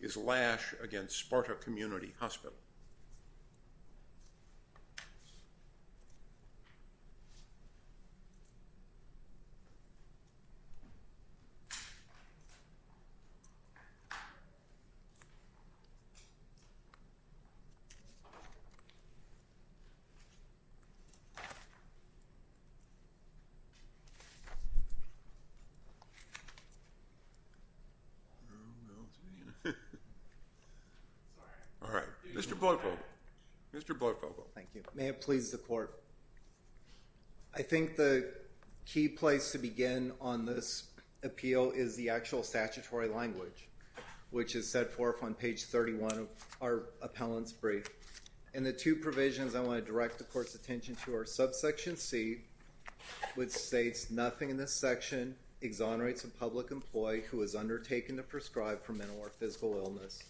is Lash v. Sparta Community Hospital. I think the key place to begin on this appeal is the actual statutory language, which is set forth on page 31 of our appellant's brief. In the two provisions, I want to direct the court's attention to our subsection C, which or physical illness,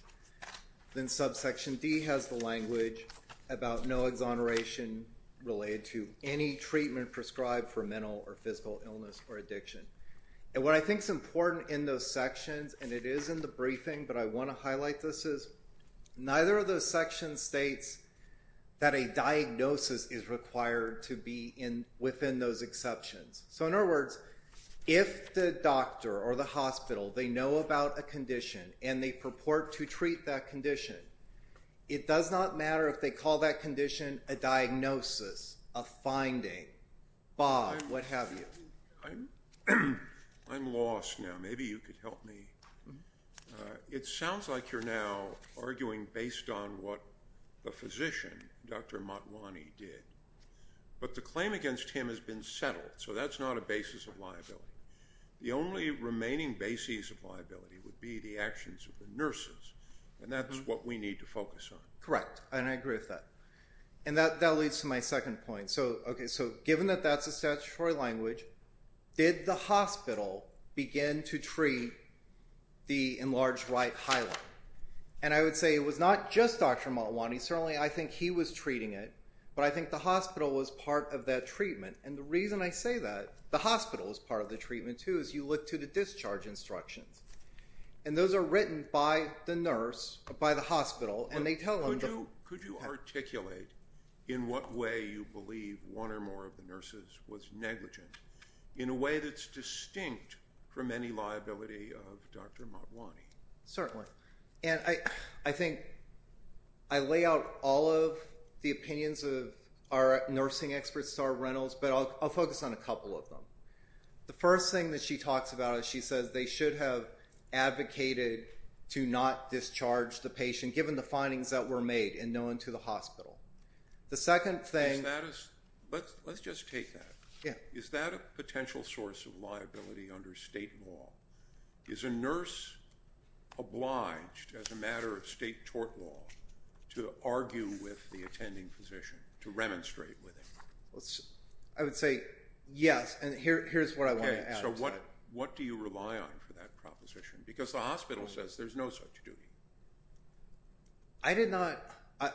then subsection D has the language about no exoneration related to any treatment prescribed for mental or physical illness or addiction. And what I think is important in those sections, and it is in the briefing, but I want to highlight this, is neither of those sections states that a diagnosis is required to be within those exceptions. So, in other words, if the doctor or the hospital, they know about a condition and they purport to treat that condition, it does not matter if they call that condition a diagnosis, a finding, bog, what have you. I'm lost now. Maybe you could help me. It sounds like you're now arguing based on what the physician, Dr. Matwani, did. But the claim against him has been settled, so that's not a basis of liability. The only remaining basis of liability would be the actions of the nurses, and that's what we need to focus on. Correct. And I agree with that. And that leads to my second point. Okay, so given that that's a statutory language, did the hospital begin to treat the enlarged right highline? And I would say it was not just Dr. Matwani, certainly I think he was treating it, but I think the hospital was part of that treatment. And the reason I say that, the hospital was part of the treatment, too, as you look to the discharge instructions. And those are written by the nurse, by the hospital, and they tell them. Could you articulate in what way you believe one or more of the nurses was negligent, in a way that's distinct from any liability of Dr. Matwani? Certainly. And I think I lay out all of the opinions of our nursing experts at our rentals, but I'll focus on a couple of them. The first thing that she talks about is she says they should have advocated to not discharge the patient, given the findings that were made, and known to the hospital. The second thing... Is that a... Let's just take that. Yeah. Is that a potential source of liability under state law? Is a nurse obliged, as a matter of state tort law, to argue with the attending physician, to remonstrate with him? I would say, yes, and here's what I want to add. Okay. So what do you rely on for that proposition? Because the hospital says there's no such duty. I did not...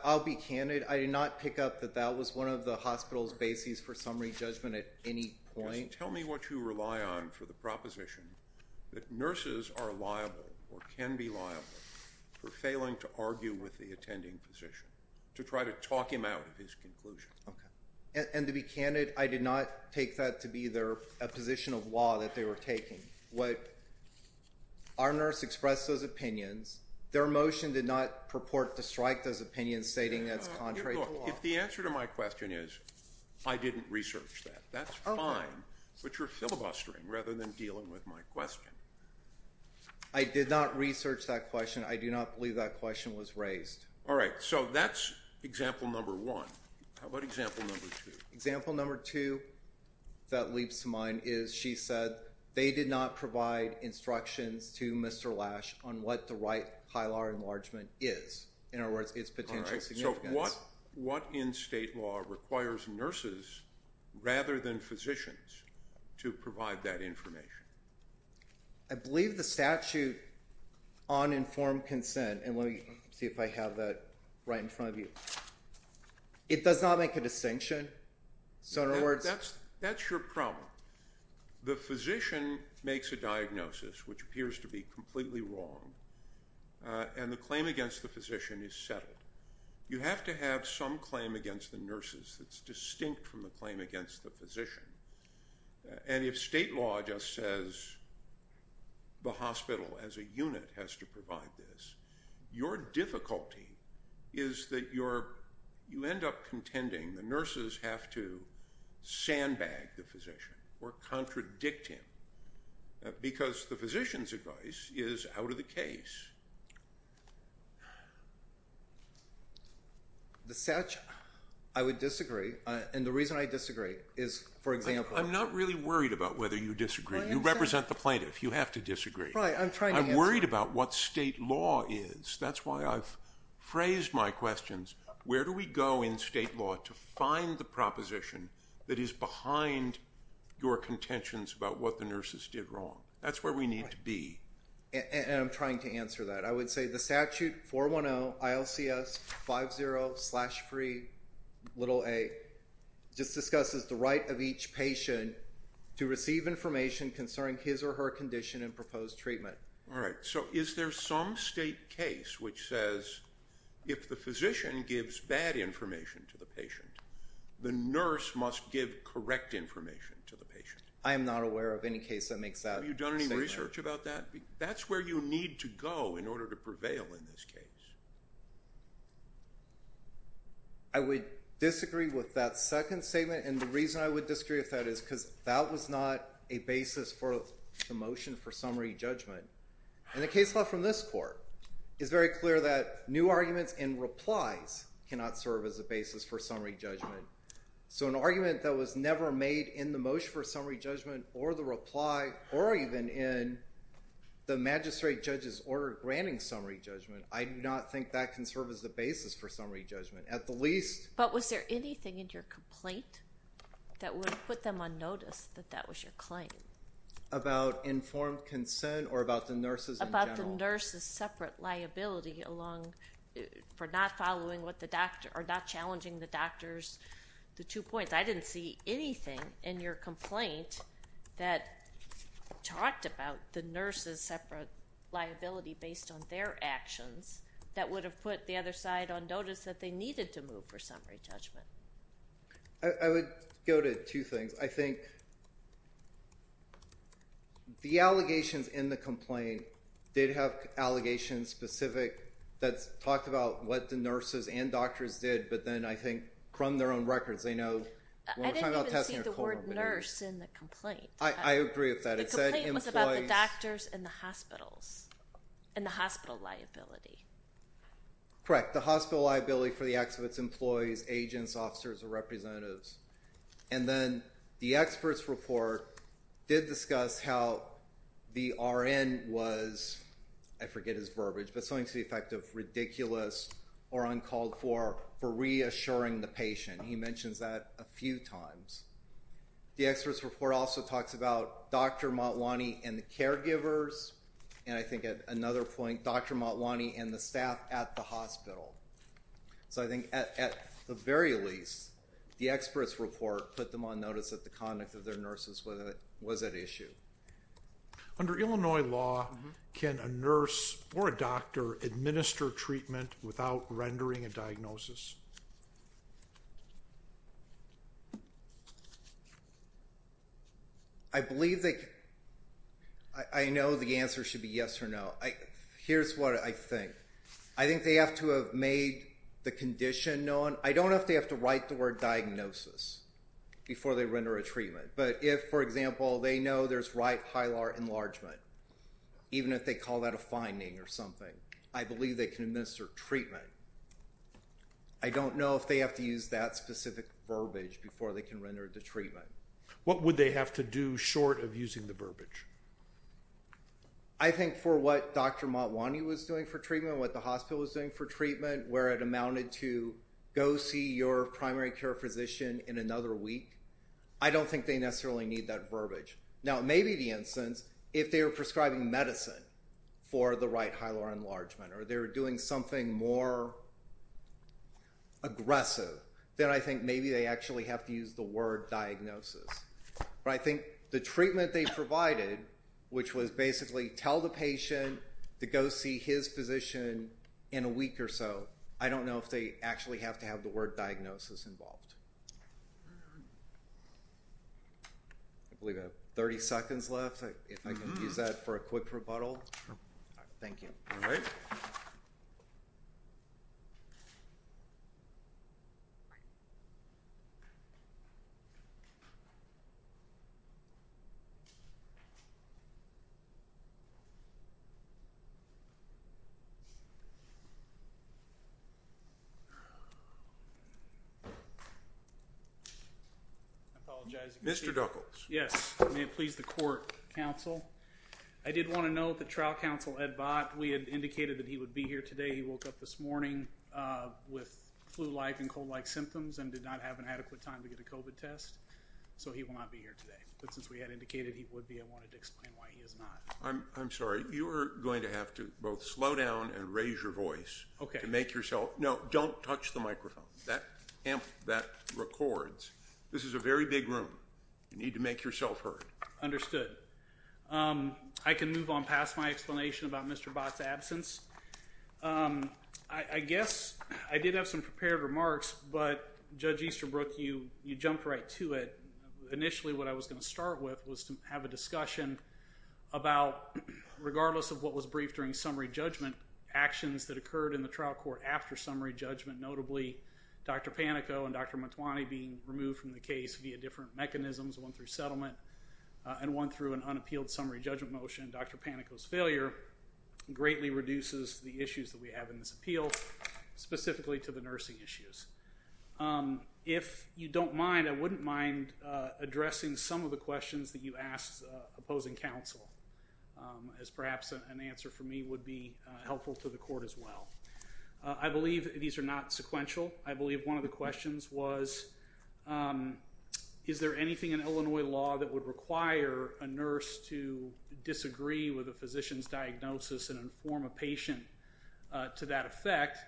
I'll be candid. I did not pick up that that was one of the hospital's bases for summary judgment at any point. Tell me what you rely on for the proposition that nurses are liable or can be liable for failing to argue with the attending physician, to try to talk him out of his conclusion. And to be candid, I did not take that to be their position of law that they were taking. Our nurse expressed those opinions. Their motion did not purport to strike those opinions, stating that it's contrary to law. Look, if the answer to my question is, I didn't research that, that's fine. But you're filibustering rather than dealing with my question. I did not research that question. I do not believe that question was raised. All right. So that's example number one. How about example number two? Example number two that leaps to mind is, she said, they did not provide instructions to Mr. Lash on what the right high law enlargement is, in other words, its potential significance. So what in state law requires nurses, rather than physicians, to provide that information? I believe the statute on informed consent, and let me see if I have that right in front of you. It does not make a distinction. So in other words... That's your problem. The physician makes a diagnosis, which appears to be completely wrong, and the claim against the physician is settled. You have to have some claim against the nurses that's distinct from the claim against the physician. And if state law just says the hospital, as a unit, has to provide this, your difficulty is that you end up contending the nurses have to sandbag the physician or contradict him. Because the physician's advice is out of the case. The statute, I would disagree. And the reason I disagree is, for example... I'm not really worried about whether you disagree. You represent the plaintiff. You have to disagree. Right. I'm trying to answer. I'm worried about what state law is. That's why I've phrased my questions, where do we go in state law to find the proposition that is behind your contentions about what the nurses did wrong? That's where we need to be. Right. And I'm trying to answer that. I would say the statute, 410 ILCS 50-3a, just discusses the right of each patient to receive information concerning his or her condition and proposed treatment. All right. So is there some state case which says, if the physician gives bad information to the nurse, the nurse must give correct information to the patient? I am not aware of any case that makes that statement. Have you done any research about that? That's where you need to go in order to prevail in this case. I would disagree with that second statement. And the reason I would disagree with that is because that was not a basis for the motion for summary judgment. And the case law from this court is very clear that new arguments and replies cannot serve as a basis for summary judgment. So an argument that was never made in the motion for summary judgment or the reply or even in the magistrate judge's order granting summary judgment, I do not think that can serve as the basis for summary judgment. At the least— But was there anything in your complaint that would put them on notice that that was your claim? About informed consent or about the nurses in general? Or nurses' separate liability along—for not following what the doctor—or not challenging the doctor's—the two points. I didn't see anything in your complaint that talked about the nurses' separate liability based on their actions that would have put the other side on notice that they needed to move for summary judgment. I would go to two things. I think the allegations in the complaint did have allegations specific that talked about what the nurses and doctors did, but then I think from their own records they know— I didn't even see the word nurse in the complaint. I agree with that. It said employees— The complaint was about the doctors and the hospitals and the hospital liability. Correct. The hospital liability for the acts of its employees, agents, officers, or representatives. And then the expert's report did discuss how the RN was—I forget his verbiage, but something to the effect of ridiculous or uncalled for for reassuring the patient. He mentions that a few times. The expert's report also talks about Dr. Motwani and the caregivers, and I think at another point Dr. Motwani and the staff at the hospital. So I think at the very least, the expert's report put them on notice that the conduct of their nurses was at issue. Under Illinois law, can a nurse or a doctor administer treatment without rendering a diagnosis? I believe that—I know the answer should be yes or no. Here's what I think. I think they have to have made the condition known. I don't know if they have to write the word diagnosis before they render a treatment, but if, for example, they know there's right hilar enlargement, even if they call that a finding or something, I believe they can administer treatment. I don't know if they have to use that specific verbiage before they can render the treatment. I think for what Dr. Motwani was doing for treatment, what the hospital was doing for treatment, where it amounted to, go see your primary care physician in another week. I don't think they necessarily need that verbiage. Now maybe the instance, if they were prescribing medicine for the right hilar enlargement or they were doing something more aggressive, then I think maybe they actually have to use the word diagnosis. But I think the treatment they provided, which was basically tell the patient to go see his physician in a week or so, I don't know if they actually have to have the word diagnosis involved. I believe I have 30 seconds left, if I can use that for a quick rebuttal. Thank you. All right. All right. I apologize. Mr. Duckels. Yes, may it please the court, counsel. I did want to note that trial counsel Ed Bott, we had indicated that he would be here today. He woke up this morning with flu-like and cold-like symptoms and did not have an adequate time to get a COVID test. So he will not be here today. But since we had indicated he would be, I wanted to explain why he is not. I'm sorry. You are going to have to both slow down and raise your voice to make yourself... No, don't touch the microphone. That records. This is a very big room. You need to make yourself heard. Understood. I can move on past my explanation about Mr. Bott's absence. I guess I did have some prepared remarks, but Judge Easterbrook, you jumped right to it. Initially, what I was going to start with was to have a discussion about, regardless of what was briefed during summary judgment, actions that occurred in the trial court after summary judgment, notably Dr. Panico and Dr. Mantuani being removed from the case via different mechanisms, one through settlement and one through an unappealed summary judgment motion. Dr. Panico's failure greatly reduces the issues that we have in this appeal, specifically to the nursing issues. If you don't mind, I wouldn't mind addressing some of the questions that you asked opposing counsel as perhaps an answer for me would be helpful to the court as well. I believe these are not sequential. I believe one of the questions was, is there anything in Illinois law that would require a nurse to disagree with a physician's diagnosis and inform a patient to that effect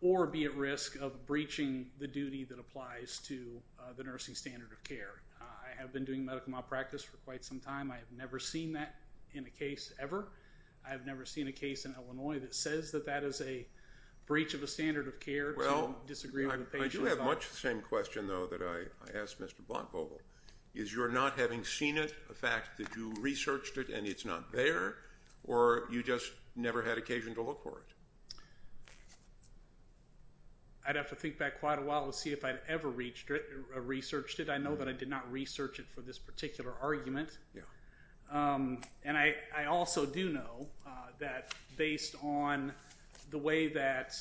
or be at risk of breaching the duty that applies to the nursing standard of care? I have been doing medical malpractice for quite some time. I have never seen that in a case ever. I have never seen a case in Illinois that says that that is a breach of a standard of care to disagree with a patient's thought. Well, I do have much the same question, though, that I asked Mr. Blanco. Is your not having seen it a fact that you researched it and it's not there, or you just never had occasion to look for it? I'd have to think back quite a while to see if I'd ever researched it. I know that I did not research it for this particular argument, and I also do know that based on the way that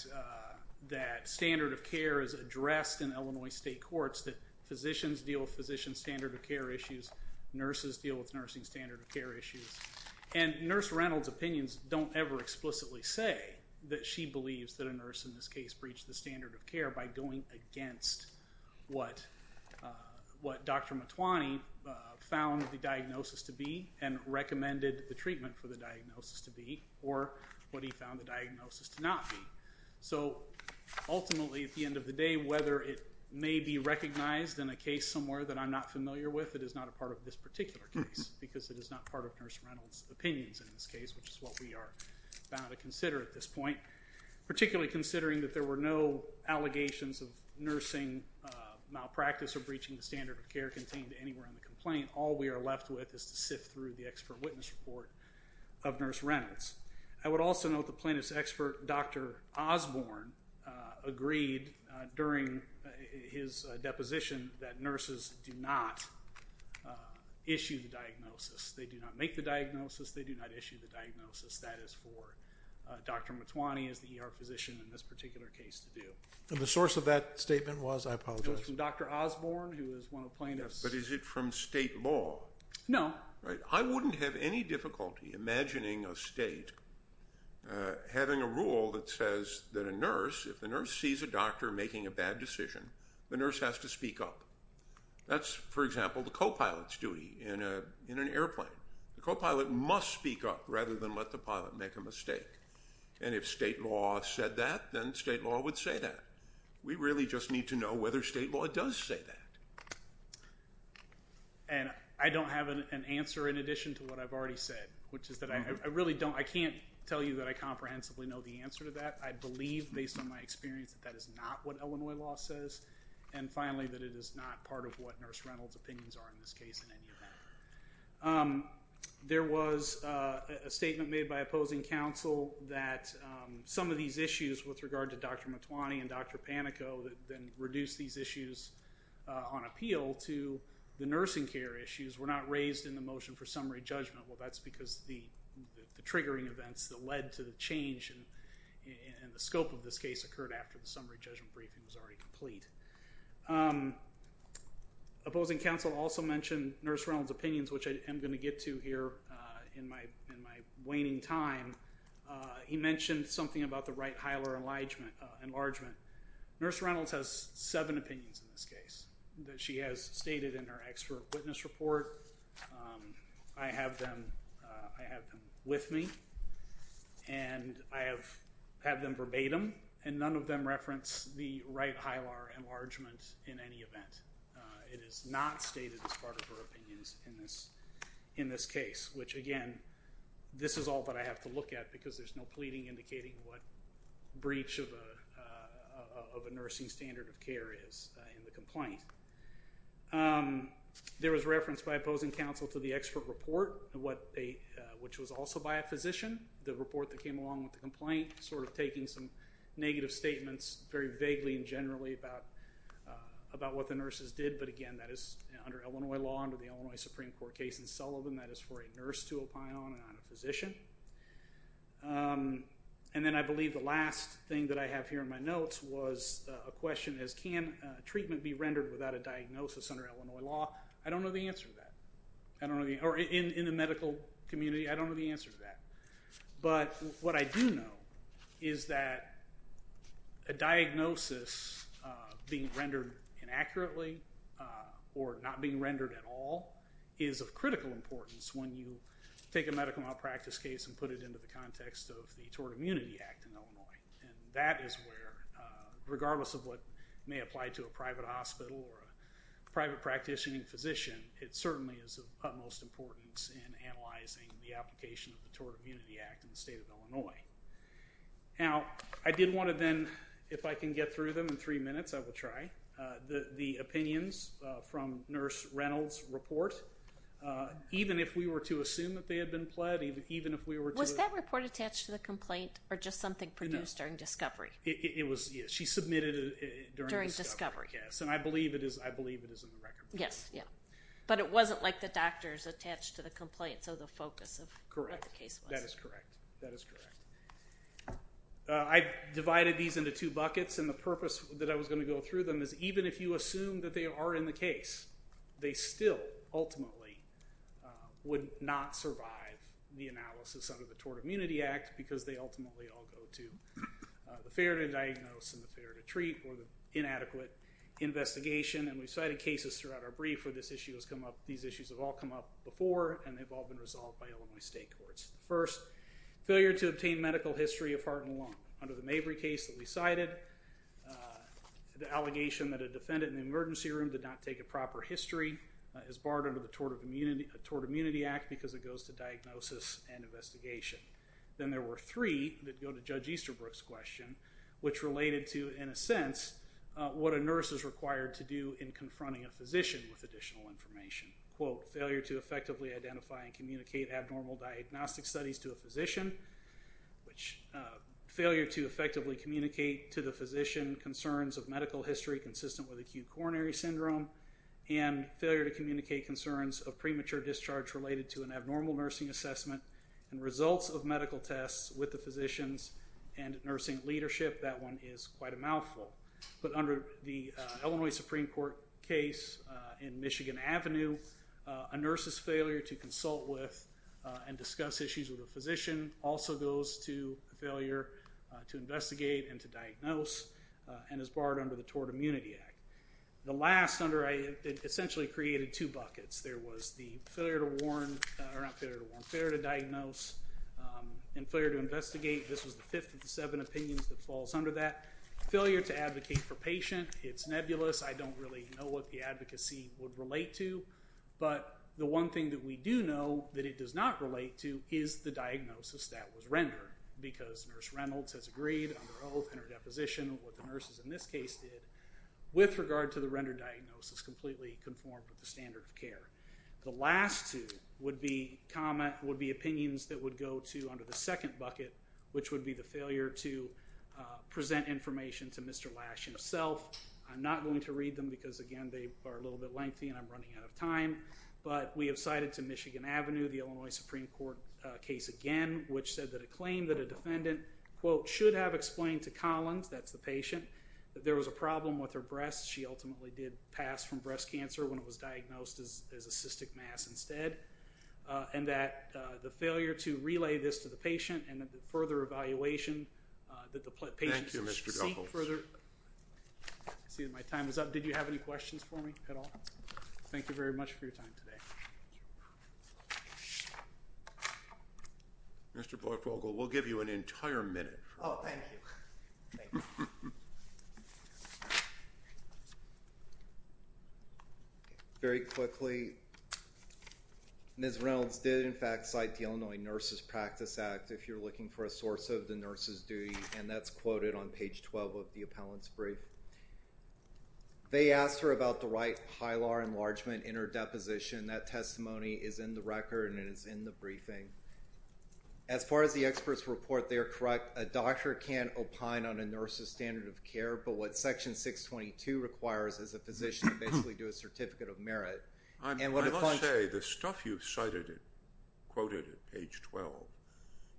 standard of care is addressed in Illinois state courts, that physicians deal with physician's standard of care issues. Nurses deal with nursing's standard of care issues, and Nurse Reynolds' opinions don't ever explicitly say that she believes that a nurse in this case breached the standard of care by going against what Dr. Matwani found the diagnosis to be and recommended the treatment for the diagnosis to be, or what he found the diagnosis to not be. So ultimately, at the end of the day, whether it may be recognized in a case somewhere that I'm not familiar with, it is not a part of this particular case, because it is not part of Nurse Reynolds' opinions in this case, which is what we are bound to consider at this point, particularly considering that there were no allegations of nursing malpractice or breaching the standard of care contained anywhere in the complaint. All we are left with is to sift through the expert witness report of Nurse Reynolds. I would also note the plaintiff's expert, Dr. Osborne, agreed during his deposition that nurses do not issue the diagnosis, they do not make the diagnosis, they do not issue the diagnosis. That is for Dr. Matwani, as the ER physician in this particular case, to do. The source of that statement was, I apologize? It was from Dr. Osborne, who is one of the plaintiffs. But is it from state law? No. I wouldn't have any difficulty imagining a state having a rule that says that a nurse, if the nurse sees a doctor making a bad decision, the nurse has to speak up. That's, for example, the co-pilot's duty in an airplane. The co-pilot must speak up, rather than let the pilot make a mistake. And if state law said that, then state law would say that. We really just need to know whether state law does say that. And, I don't have an answer in addition to what I've already said, which is that I really don't, I can't tell you that I comprehensively know the answer to that. I believe, based on my experience, that that is not what Illinois law says. And finally, that it is not part of what Nurse Reynolds' opinions are in this case, in any event. There was a statement made by opposing counsel that some of these issues, with regard to on appeal to the nursing care issues, were not raised in the motion for summary judgment. Well, that's because the triggering events that led to the change in the scope of this case occurred after the summary judgment briefing was already complete. Opposing counsel also mentioned Nurse Reynolds' opinions, which I am going to get to here in my waning time. He mentioned something about the Wright-Heiler enlargement. Nurse Reynolds has seven opinions in this case that she has stated in her expert witness report. I have them with me, and I have them verbatim, and none of them reference the Wright-Heiler enlargement in any event. It is not stated as part of her opinions in this case, which again, this is all that I of a nursing standard of care is in the complaint. There was reference by opposing counsel to the expert report, which was also by a physician. The report that came along with the complaint sort of taking some negative statements, very vaguely and generally, about what the nurses did. But again, that is under Illinois law, under the Illinois Supreme Court case in Sullivan, that is for a nurse to opine on and not a physician. And then I believe the last thing that I have here in my notes was a question as can treatment be rendered without a diagnosis under Illinois law? I don't know the answer to that. In the medical community, I don't know the answer to that. But what I do know is that a diagnosis being rendered inaccurately or not being rendered at all is of critical importance when you take a medical malpractice case and put it into the context of the Tort Immunity Act in Illinois. That is where, regardless of what may apply to a private hospital or a private practitioner and physician, it certainly is of utmost importance in analyzing the application of the Tort Immunity Act in the state of Illinois. Now, I did want to then, if I can get through them in three minutes, I will try. The opinions from Nurse Reynolds' report. Even if we were to assume that they had been pled, even if we were to... Was that report attached to the complaint or just something produced during discovery? It was, yes. She submitted it during discovery. During discovery. Yes. And I believe it is in the record. Yes. Yeah. But it wasn't like the doctors attached to the complaint, so the focus of what the case was. Correct. That is correct. That is correct. I divided these into two buckets, and the purpose that I was going to go through them is even if you assume that they are in the case, they still, ultimately, would not survive the analysis under the Tort Immunity Act because they ultimately all go to the fair to diagnose and the fair to treat or the inadequate investigation, and we've cited cases throughout our brief where this issue has come up. These issues have all come up before, and they've all been resolved by Illinois state courts. First, failure to obtain medical history of heart and lung. Under the Mabry case that we cited, the allegation that a defendant in the emergency room did not take a proper history is barred under the Tort Immunity Act because it goes to diagnosis and investigation. Then there were three that go to Judge Easterbrook's question, which related to, in a sense, what a nurse is required to do in confronting a physician with additional information. Quote, failure to effectively identify and communicate abnormal diagnostic studies to a physician, which failure to effectively communicate to the physician concerns of medical history consistent with acute coronary syndrome, and failure to communicate concerns of premature discharge related to an abnormal nursing assessment and results of medical tests with the physicians and nursing leadership. That one is quite a mouthful. But under the Illinois Supreme Court case in Michigan Avenue, a nurse's failure to consult with and discuss issues with a physician also goes to failure to investigate and to diagnose and is barred under the Tort Immunity Act. The last under, it essentially created two buckets. There was the failure to warn, or not failure to warn, failure to diagnose and failure to investigate. This was the fifth of the seven opinions that falls under that. Failure to advocate for patient, it's nebulous. I don't really know what the advocacy would relate to, but the one thing that we do know that it does not relate to is the diagnosis that was rendered, because Nurse Reynolds has agreed on her oath and her deposition, what the nurses in this case did, with regard to the rendered diagnosis completely conformed with the standard of care. The last two would be opinions that would go to, under the second bucket, which would be the failure to present information to Mr. Lash himself. I'm not going to read them because, again, they are a little bit lengthy and I'm running out of time. But we have cited to Michigan Avenue, the Illinois Supreme Court case again, which said that a claim that a defendant, quote, should have explained to Collins, that's the patient, that there was a problem with her breast. She ultimately did pass from breast cancer when it was diagnosed as a cystic mass instead. And that the failure to relay this to the patient and that the further evaluation that Thank you, Mr. Dunkels. ...seek further... I see that my time is up. Did you have any questions for me at all? Thank you very much for your time today. Mr. Boyk-Vogel, we'll give you an entire minute. Oh, thank you. Very quickly, Ms. Reynolds did, in fact, cite the Illinois Nurses Practice Act if you're looking for a source of the nurse's duty, and that's quoted on page 12 of the appellant's brief. They asked her about the right pilar enlargement in her deposition. That testimony is in the record and it is in the briefing. As far as the experts report, they are correct. A doctor can't opine on a nurse's standard of care, but what section 622 requires is a physician to basically do a certificate of merit. I must say, the stuff you've cited, quoted at page 12,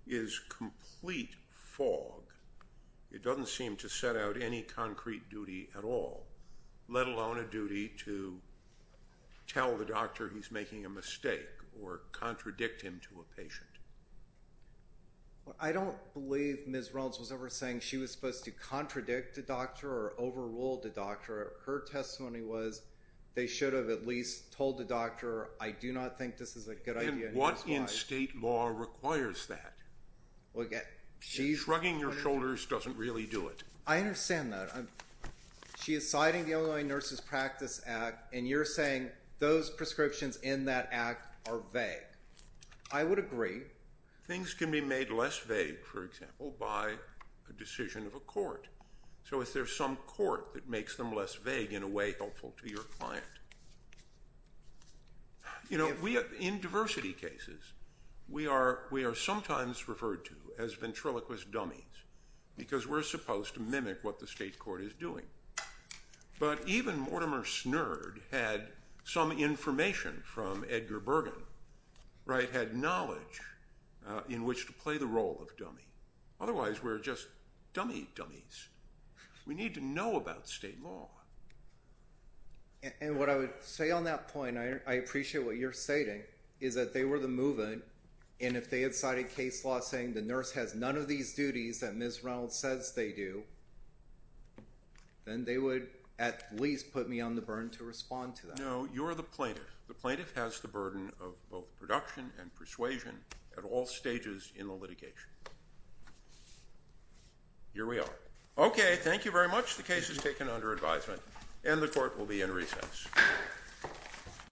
is complete fog. It doesn't seem to set out any concrete duty at all, let alone a duty to tell the doctor he's making a mistake or contradict him to a patient. I don't believe Ms. Reynolds was ever saying she was supposed to contradict a doctor or overrule the doctor. Her testimony was they should have at least told the doctor, I do not think this is a good idea. And what in state law requires that? Shrugging your shoulders doesn't really do it. I understand that. She is citing the Illinois Nurses Practice Act and you're saying those prescriptions in that act are vague. I would agree. Things can be made less vague, for example, by a decision of a court. So if there's some court that makes them less vague in a way helpful to your client. You know, in diversity cases, we are sometimes referred to as ventriloquist dummies because we're supposed to mimic what the state court is doing. But even Mortimer Snurd had some information from Edgar Bergen, right, had knowledge in which to play the role of dummy. Otherwise we're just dummy dummies. We need to know about state law. And what I would say on that point, I appreciate what you're stating, is that they were the movement and if they had cited case law saying the nurse has none of these duties that Ms. Reynolds says they do, then they would at least put me on the burn to respond to that. No, you're the plaintiff. The plaintiff has the burden of both production and persuasion at all stages in the litigation. Here we are. Okay, thank you very much. The case is taken under advisement and the court will be in recess.